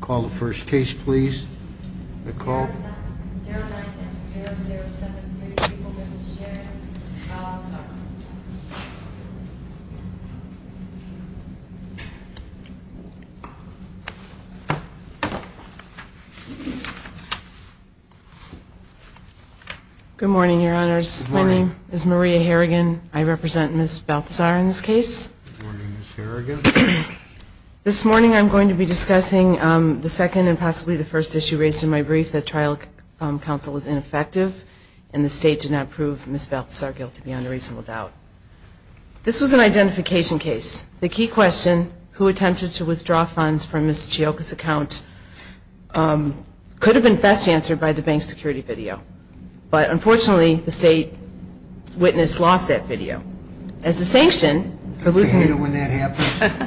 Call the first case, please Good morning, your honors. My name is Maria Harrigan. I represent miss Balthazar in this case Good morning, Ms. Harrigan This morning I'm going to be discussing the second and possibly the first issue raised in my brief that trial Counsel was ineffective and the state did not prove miss Balthazar guilty beyond a reasonable doubt This was an identification case the key question who attempted to withdraw funds from miss Chiokas account Could have been best answered by the bank security video, but unfortunately the state Witness lost that video as a sanction for losing Well the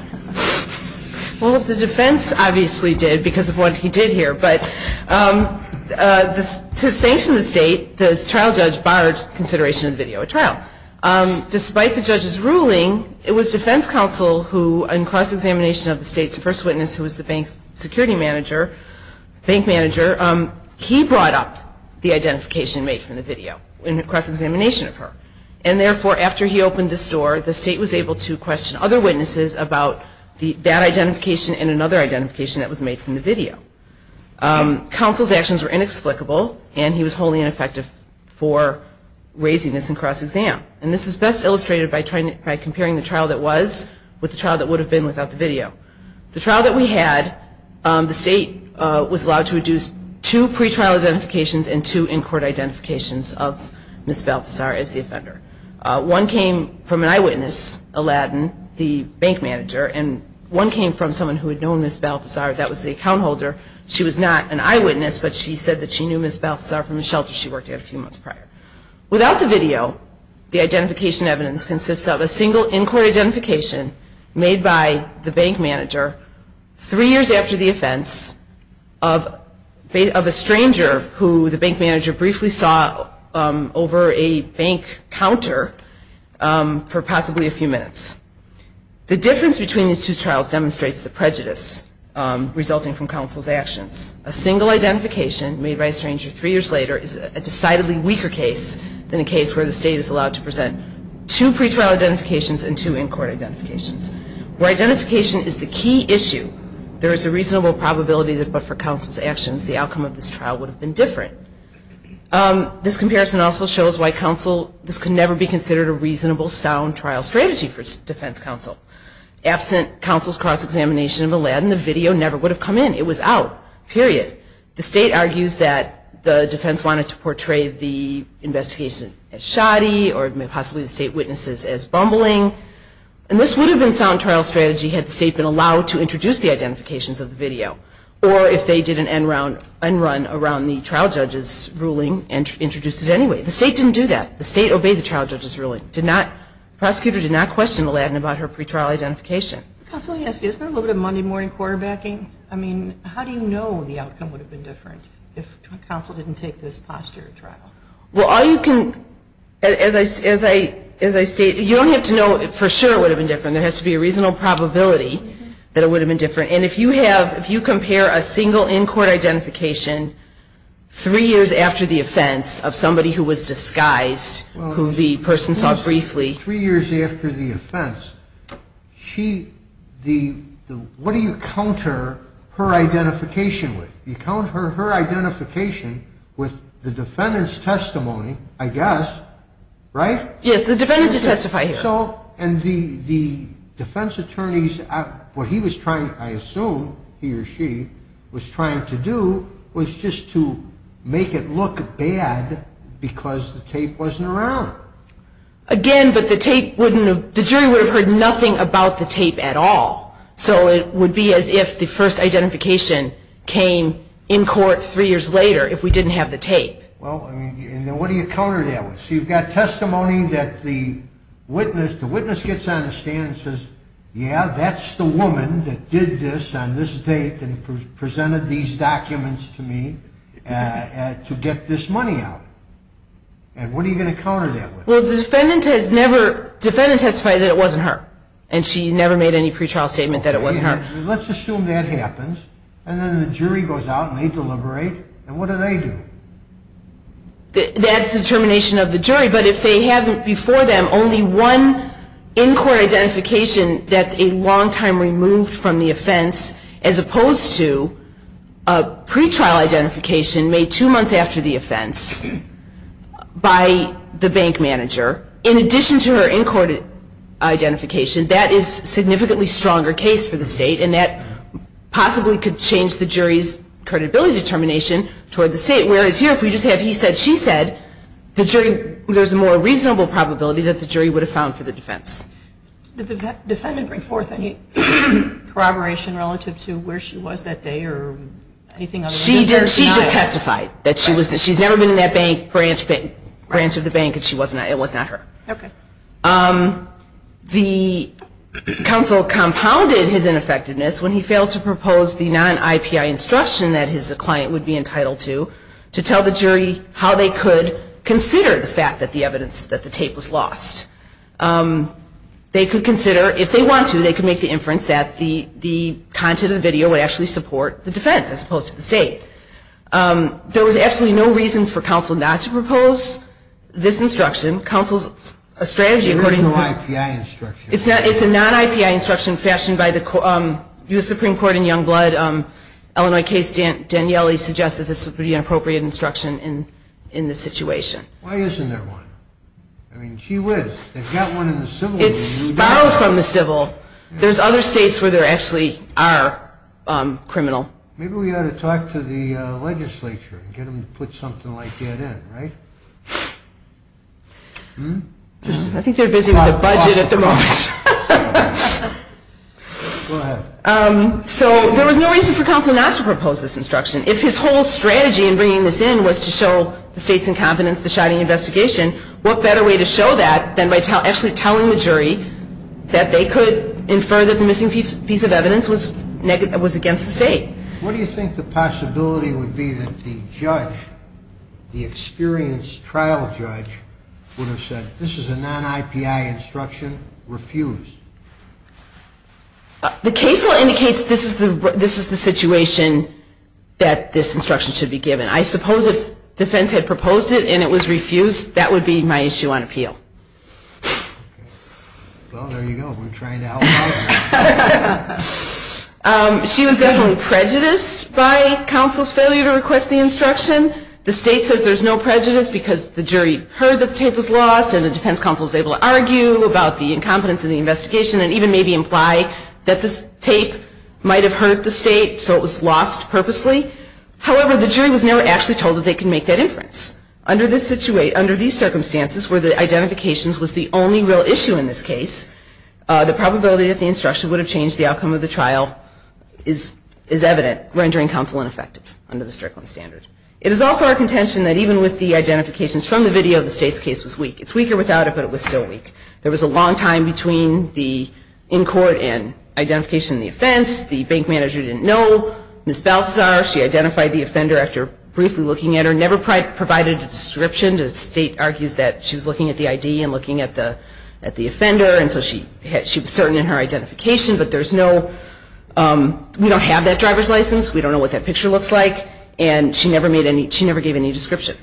defense obviously did because of what he did here, but This to sanction the state the trial judge barred consideration of video a trial Despite the judge's ruling it was defense counsel who in cross-examination of the state's first witness who was the bank's security manager Bank manager he brought up the identification made from the video in the cross-examination of her and Therefore after he opened this door the state was able to question other witnesses about the that identification and another identification That was made from the video Counsel's actions were inexplicable and he was wholly ineffective for Raising this in cross-exam And this is best illustrated by trying by comparing the trial that was with the trial that would have been without the video the trial that we had The state was allowed to reduce to pretrial identifications and to in-court Identifications of miss Balthazar as the offender one came from an eyewitness Aladdin the bank manager and one came from someone who had known miss Balthazar that was the account holder She was not an eyewitness, but she said that she knew miss Balthazar from the shelter She worked at a few months prior without the video the identification evidence consists of a single in-court identification made by the bank manager Three years after the offense of Based of a stranger who the bank manager briefly saw over a bank counter for possibly a few minutes the difference between these two trials demonstrates the prejudice Resulting from counsel's actions a single identification made by a stranger three years later Is a decidedly weaker case than a case where the state is allowed to present two pretrial identifications and two in-court Identifications where identification is the key issue There is a reasonable probability that but for counsel's actions the outcome of this trial would have been different This comparison also shows why counsel this can never be considered a reasonable sound trial strategy for Defense Counsel Absent counsel's cross-examination of Aladdin the video never would have come in it was out period the state argues that the defense wanted to portray the Investigation as shoddy or may possibly the state witnesses as bumbling And this would have been sound trial strategy had the state been allowed to introduce the identifications of the video Or if they did an end round and run around the trial judges Ruling and introduced it anyway the state didn't do that the state obeyed the trial judges ruling did not Prosecutor did not question Aladdin about her pretrial identification Isn't a little bit of Monday morning quarterbacking I mean, how do you know the outcome would have been different if counsel didn't take this posture trial? Well all you can as I as I as I state you don't have to know it for sure would have been different There has to be a reasonable probability that it would have been different, and if you have if you compare a single in-court identification Three years after the offense of somebody who was disguised who the person saw briefly three years after the offense She the what do you counter her? Identification with you count her her identification with the defendant's testimony, I guess Right yes the defendant to testify so and the the defense attorneys What he was trying I assume he or she was trying to do was just to make it look bad Because the tape wasn't around Again, but the tape wouldn't have the jury would have heard nothing about the tape at all So it would be as if the first identification came in court three years later if we didn't have the tape well, what do you counter that was you've got testimony that the Witness the witness gets on the stand and says yeah That's the woman that did this on this date and presented these documents to me To get this money out And what are you going to counter that well the defendant has never? Defendant testified that it wasn't her and she never made any pretrial statement that it wasn't her Let's assume that happens and then the jury goes out and they deliberate and what do they do? That's the termination of the jury, but if they haven't before them only one in-court identification, that's a long time removed from the offense as opposed to a pretrial identification made two months after the offense By the bank manager in addition to her in-court identification that is significantly stronger case for the state and that Possibly could change the jury's credibility determination toward the state whereas here if we just have he said she said The jury there's a more reasonable probability that the jury would have found for the defense defendant bring forth any Corroboration relative to where she was that day or anything? She did she just testified that she was that she's never been in that bank branch big branch of the bank And she wasn't I it was not her okay the Counsel compounded his ineffectiveness when he failed to propose the non-ipi instruction that his client would be entitled to To tell the jury how they could consider the fact that the evidence that the tape was lost They could consider if they want to they could make the inference that the the Content of the video would actually support the defense as opposed to the state There was absolutely no reason for counsel not to propose This instruction counsel's a strategy according to the life. Yeah, it's not it's a non-ipi instruction fashioned by the US Supreme Court in Youngblood Illinois case Dan Danielli suggests that this would be an appropriate instruction in in this situation Isn't there one I mean she was It's borrowed from the civil. There's other states where there actually are Criminal, maybe we ought to talk to the legislature and get them to put something like that in right I Think they're busy with a budget at the moment So there was no reason for counsel not to propose this instruction if his whole Strategy and bringing this in was to show the state's incompetence the shoddy investigation What better way to show that then by tell actually telling the jury? That they could infer that the missing piece of evidence was negative was against the state What do you think the possibility would be that the judge? The experienced trial judge would have said this is a non-ipi instruction refused But the case law indicates this is the this is the situation That this instruction should be given. I suppose if defense had proposed it and it was refused. That would be my issue on appeal She was definitely prejudiced by Counsel's failure to request the instruction the state says there's no prejudice because the jury heard that tape was lost and the defense counsel was able to argue about the Incompetence of the investigation and even maybe imply that this tape might have hurt the state. So it was lost purposely However, the jury was never actually told that they can make that inference under this situate under these circumstances where the identifications was the only real issue in this case The probability that the instruction would have changed the outcome of the trial is is evident rendering counsel ineffective under the Strickland standard It is also our contention that even with the identifications from the video the state's case was weak It's weaker without it, but it was still weak. There was a long time between the in court and Identification the offense the bank manager didn't know miss bouts are she identified the offender after briefly looking at her never Provided a description to state argues that she was looking at the ID and looking at the at the offender And so she had she was certain in her identification, but there's no We don't have that driver's license We don't know what that picture looks like and she never made any she never gave any description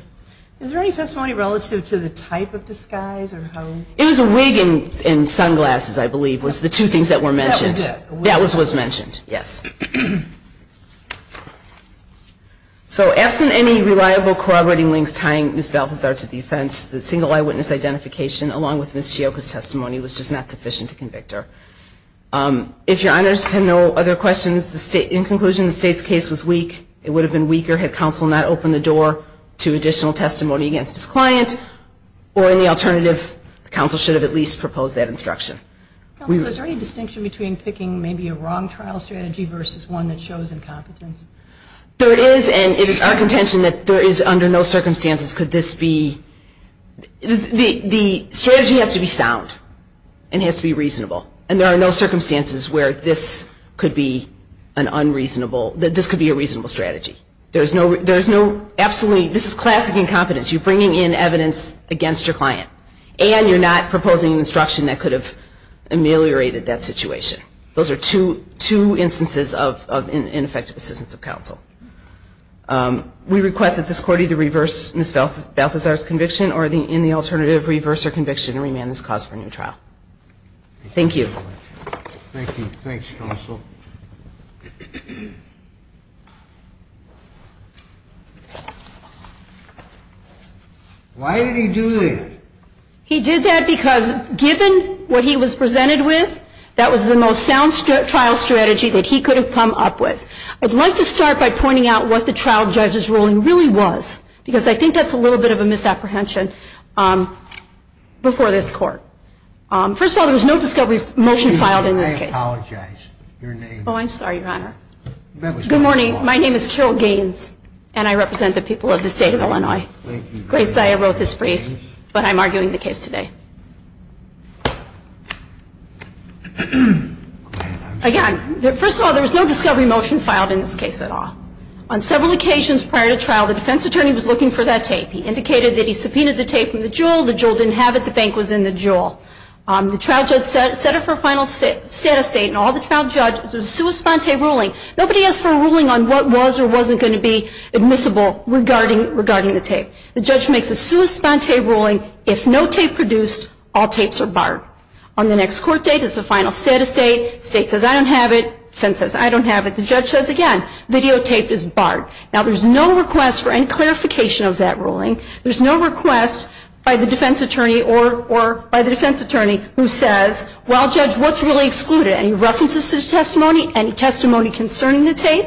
Any testimony relative to the type of disguise or how it was a wig and in sunglasses I believe was the two things that were mentioned that was was mentioned. Yes So absent any reliable corroborating links tying miss Balthazar to the offense the single eyewitness identification Along with miss Chioka's testimony was just not sufficient to convict her If your honors have no other questions the state in conclusion the state's case was weak It would have been weaker had counsel not opened the door to additional testimony against his client or in the alternative Counsel should have at least proposed that instruction We was a distinction between picking maybe a wrong trial strategy versus one that shows incompetence There it is and it is our contention that there is under no circumstances. Could this be? the the strategy has to be sound and has to be reasonable and there are no circumstances where this could be an Unreasonable that this could be a reasonable strategy. There's no there's no absolutely. This is classic incompetence You're bringing in evidence against your client and you're not proposing an instruction that could have Ameliorated that situation. Those are two two instances of ineffective assistance of counsel We request that this court either reverse miss Balthazar's conviction or the in the alternative reverse her conviction and remand this cause for a new trial Thank you Mm-hmm Why did he do it He did that because given what he was presented with That was the most sound strip trial strategy that he could have come up with I'd like to start by pointing out what the trial judge's ruling really was because I think that's a little bit of a misapprehension Before this court First of all, there was no discovery motion filed in this case Your name oh, I'm sorry, your honor Good morning. My name is Carol Gaines and I represent the people of the state of Illinois Grace, I wrote this brief, but I'm arguing the case today Again first of all, there was no discovery motion filed in this case at all on several occasions prior to trial The defense attorney was looking for that tape He indicated that he subpoenaed the tape from the jewel the jewel didn't have it I think was in the jewel on the trial judge set it for final state of state and all the trial judge There's a sua sponte ruling. Nobody asked for a ruling on what was or wasn't going to be admissible Regarding regarding the tape the judge makes a sua sponte ruling if no tape produced all tapes are barred on the next court date It's the final status date state says I don't have it defense says I don't have it The judge says again videotaped is barred now. There's no request for any clarification of that ruling There's no request by the defense attorney or or by the defense attorney who says well judge What's really excluded any references to testimony any testimony concerning the tape?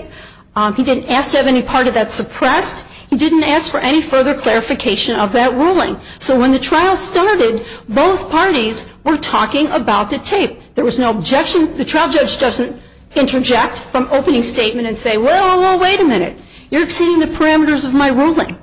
He didn't ask to have any part of that suppressed. He didn't ask for any further clarification of that ruling So when the trial started both parties were talking about the tape There was no objection the trial judge doesn't interject from opening statement and say well, wait a minute You're exceeding the parameters of my ruling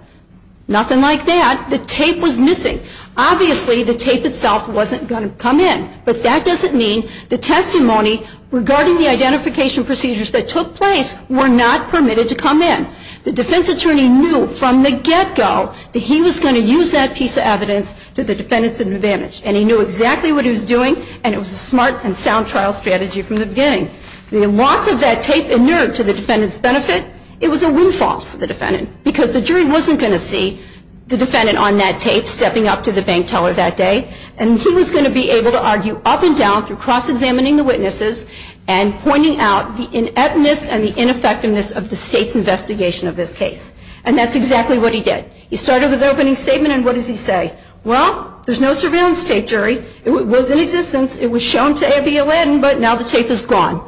Nothing like that the tape was missing Obviously the tape itself wasn't going to come in but that doesn't mean the testimony Regarding the identification procedures that took place were not permitted to come in the defense attorney knew from the get-go That he was going to use that piece of evidence to the defendants advantage And he knew exactly what he was doing and it was a smart and sound trial strategy from the beginning The loss of that tape inert to the defendants benefit It was a windfall for the defendant because the jury wasn't going to see the defendant on that tape stepping up to the bank teller that day and he was going to be able to argue up and down through cross-examining the witnesses and Pointing out the ineptness and the ineffectiveness of the state's investigation of this case, and that's exactly what he did He started with opening statement, and what does he say well? There's no surveillance tape jury It was in existence it was shown to abby aladdin, but now the tape is gone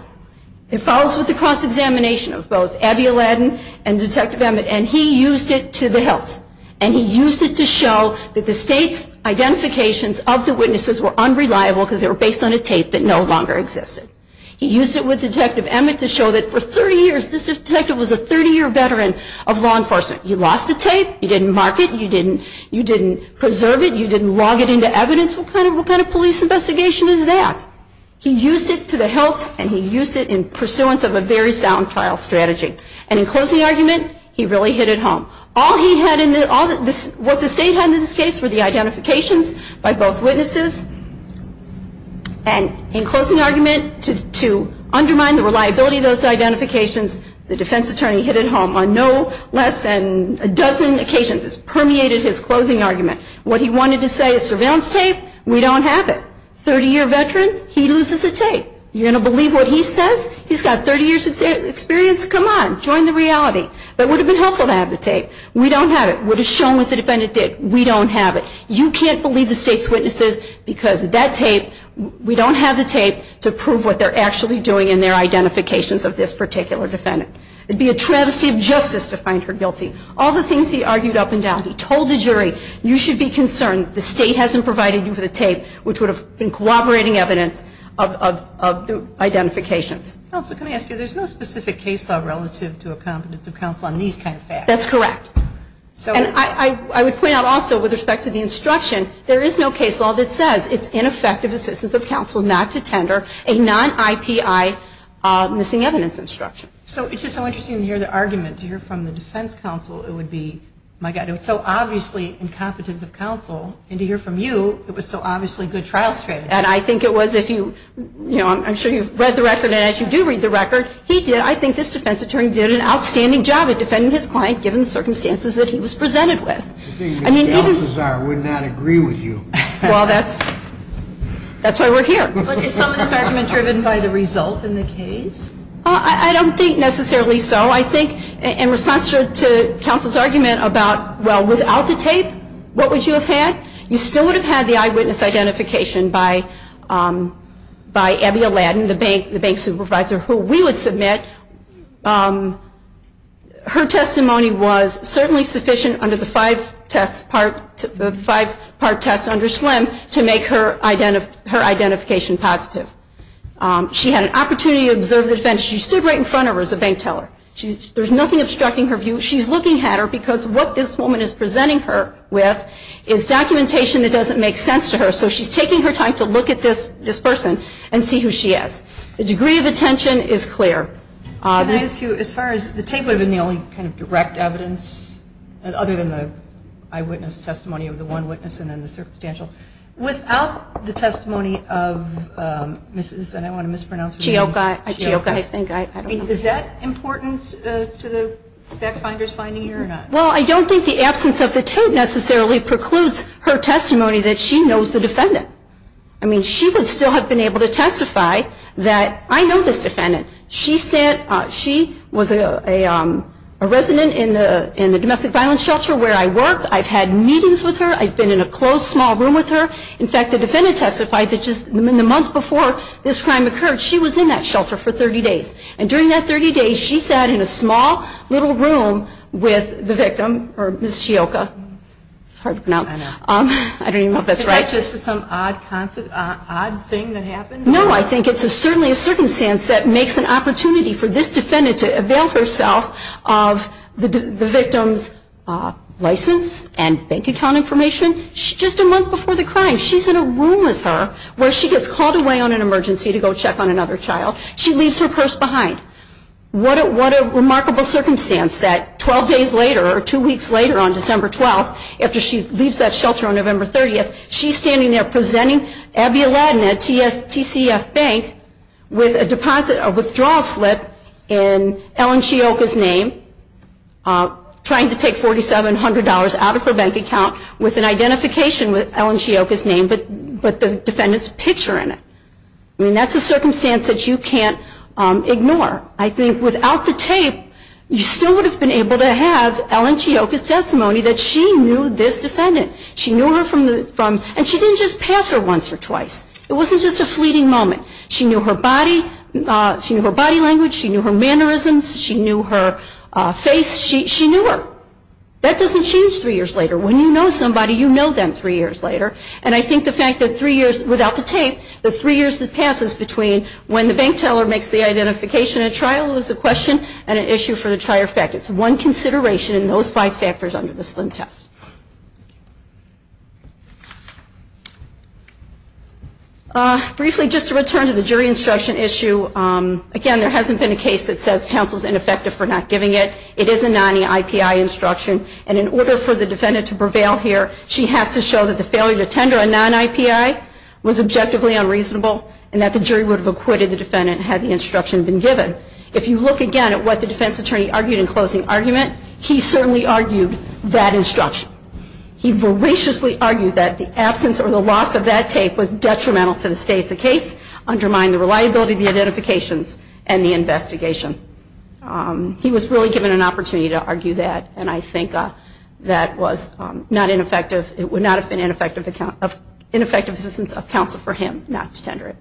It follows with the cross-examination of both abby aladdin and detective emmett And he used it to the health and he used it to show that the state's Identifications of the witnesses were unreliable because they were based on a tape that no longer existed He used it with detective emmett to show that for 30 years this detective was a 30-year veteran of law enforcement You lost the tape you didn't mark it. You didn't you didn't preserve it. You didn't log it into evidence What kind of what kind of police investigation is that? He used it to the health and he used it in pursuance of a very sound trial strategy and in closing argument He really hit it home all he had in the audit this what the state had in this case were the identifications by both witnesses and in closing argument to Undermine the reliability of those identifications the defense attorney hit at home on no less than a dozen occasions Permeated his closing argument what he wanted to say is surveillance tape. We don't have it 30-year veteran He loses a tape you're gonna believe what he says. He's got 30 years of experience Come on, join the reality that would have been helpful to have the tape. We don't have it What is shown with the defendant did we don't have it? You can't believe the state's witnesses because that tape we don't have the tape to prove what they're actually doing in their Identifications of this particular defendant it'd be a travesty of justice to find her guilty All the things he argued up and down he told the jury you should be concerned The state hasn't provided you for the tape, which would have been cooperating evidence of the Identifications. Also, can I ask you there's no specific case law relative to a competence of counsel on these kind of facts. That's correct So and I I would point out also with respect to the instruction There is no case law that says it's ineffective assistance of counsel not to tender a non-ipi Missing evidence instruction, so it's just so interesting to hear the argument to hear from the defense counsel It would be my god It's so obviously in competence of counsel and to hear from you It was so obviously good trial strategy And I think it was if you you know I'm sure you've read the record and as you do read the record he did I think this defense attorney did an outstanding job at Defending his client given the circumstances that he was presented with Well, that's That's why we're here Driven by the result in the case I don't think necessarily so I think in response to counsel's argument about well without the tape What would you have had you still would have had the eyewitness identification by? By Abby Aladdin the bank the bank supervisor who we would submit Her testimony was certainly sufficient under the five test part Five part test under slim to make her identity her identification positive She had an opportunity to observe the defense. She stood right in front of her as a bank teller She's there's nothing obstructing her view She's looking at her because what this woman is presenting her with is documentation that doesn't make sense to her So she's taking her time to look at this this person and see who she is the degree of attention is clear As far as the tape would have been the only kind of direct evidence other than the eyewitness testimony of the one witness and then the circumstantial without the testimony of Mrs.. And I want to mispronounce geo guy. I think I mean is that important to the Backfinders finding here or not well. I don't think the absence of the tape necessarily precludes her testimony that she knows the defendant I mean she would still have been able to testify that I know this defendant She said she was a a a resident in the in the domestic violence shelter where I work I've had meetings with her I've been in a closed small room with her in fact the defendant testified that just in the month before This crime occurred she was in that shelter for 30 days and during that 30 days She sat in a small little room with the victim or miss Chioca It's hard to pronounce um. I don't even know if that's right. This is some odd concept odd thing that happened No, I think it's a certainly a circumstance that makes an opportunity for this defendant to avail herself of the victim's License and bank account information just a month before the crime She's in a room with her where she gets called away on an emergency to go check on another child. She leaves her purse behind What a remarkable circumstance that 12 days later or two weeks later on December 12th after she leaves that shelter on November 30th She's standing there presenting Abby Aladdin at TCF Bank with a deposit of withdrawal slip in Ellen Chioca's name Trying to take $4,700 out of her bank account with an identification with Ellen Chioca's name But but the defendants picture in it. I mean that's a circumstance that you can't Ignore, I think without the tape you still would have been able to have Ellen Chioca's testimony that she knew this defendant She knew her from the from and she didn't just pass her once or twice. It wasn't just a fleeting moment She knew her body She knew her body language. She knew her mannerisms. She knew her Face she knew her that doesn't change three years later when you know somebody you know them three years later and I think the fact that three years without the tape the three years that passes between When the bank teller makes the identification a trial is a question and an issue for the trier fact It's one consideration in those five factors under the slim test I Briefly just to return to the jury instruction issue Again, there hasn't been a case that says counsel's ineffective for not giving it It is a non-IPI instruction and in order for the defendant to prevail here She has to show that the failure to tender a non-IPI Was objectively unreasonable and that the jury would have acquitted the defendant had the instruction been given If you look again at what the defense attorney argued in closing argument, he certainly argued that instruction He voraciously argued that the absence or the loss of that tape was detrimental to the state's a case Undermine the reliability of the identifications and the investigation He was really given an opportunity to argue that and I think that was not ineffective It would not have been ineffective account of ineffective assistance of counsel for him not to tender it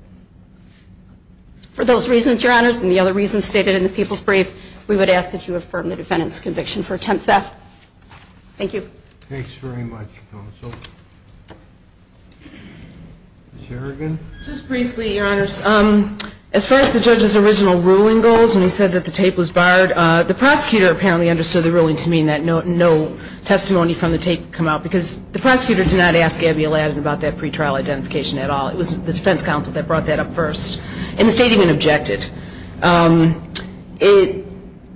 For those reasons your honors and the other reasons stated in the people's brief We would ask that you affirm the defendant's conviction for attempt theft Thank you As far as the judges original ruling goes and he said that the tape was barred the prosecutor apparently understood the ruling to mean that No, no testimony from the tape come out because the prosecutor did not ask Gabby Aladdin about that pretrial identification at all It wasn't the defense counsel that brought that up first and the state even objected it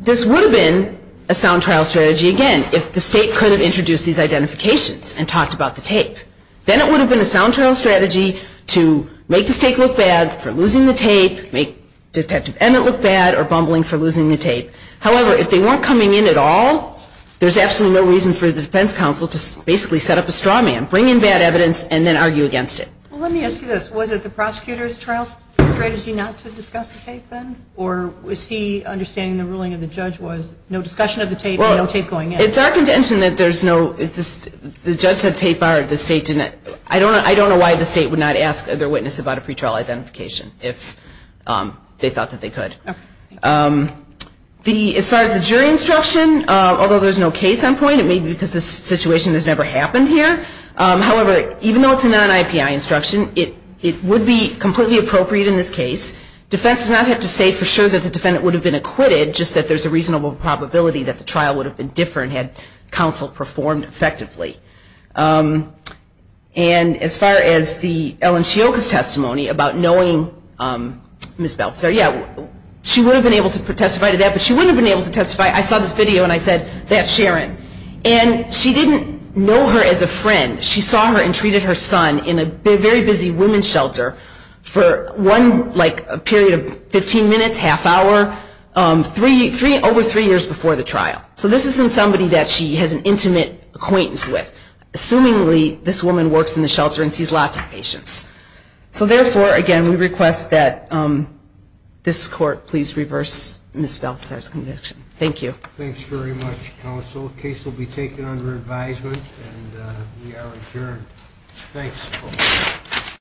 This would have been a sound trial strategy again If the state could have introduced these identifications and talked about the tape Then it would have been a sound trial strategy to make the state look bad for losing the tape make Detective Emmett look bad or bumbling for losing the tape. However, if they weren't coming in at all There's absolutely no reason for the defense counsel to basically set up a straw man bring in bad evidence and then argue against it Was it the prosecutors trials strategy not to discuss the tape then or was he Understanding the ruling of the judge was no discussion of the tape. Well, I'll take going It's our contention that there's no if this the judge said tape are the state didn't I don't know I don't know why the state would not ask their witness about a pretrial identification if They thought that they could The as far as the jury instruction, although there's no case on point it may be because this situation has never happened here However, even though it's a non-ipi instruction it it would be completely appropriate in this case Defense does not have to say for sure that the defendant would have been acquitted just that there's a reasonable Probability that the trial would have been different had counsel performed effectively and As far as the Ellen Shiokas testimony about knowing Miss Belzer. Yeah, she would have been able to put testify to that, but she wouldn't been able to testify I saw this video and I said that Sharon and she didn't know her as a friend She saw her and treated her son in a very busy women's shelter for one like a period of 15 minutes half hour Three three over three years before the trial. So this isn't somebody that she has an intimate acquaintance with Assumingly this woman works in the shelter and sees lots of patients. So therefore again, we request that This court, please reverse miss Belzer's conviction. Thank you Thanks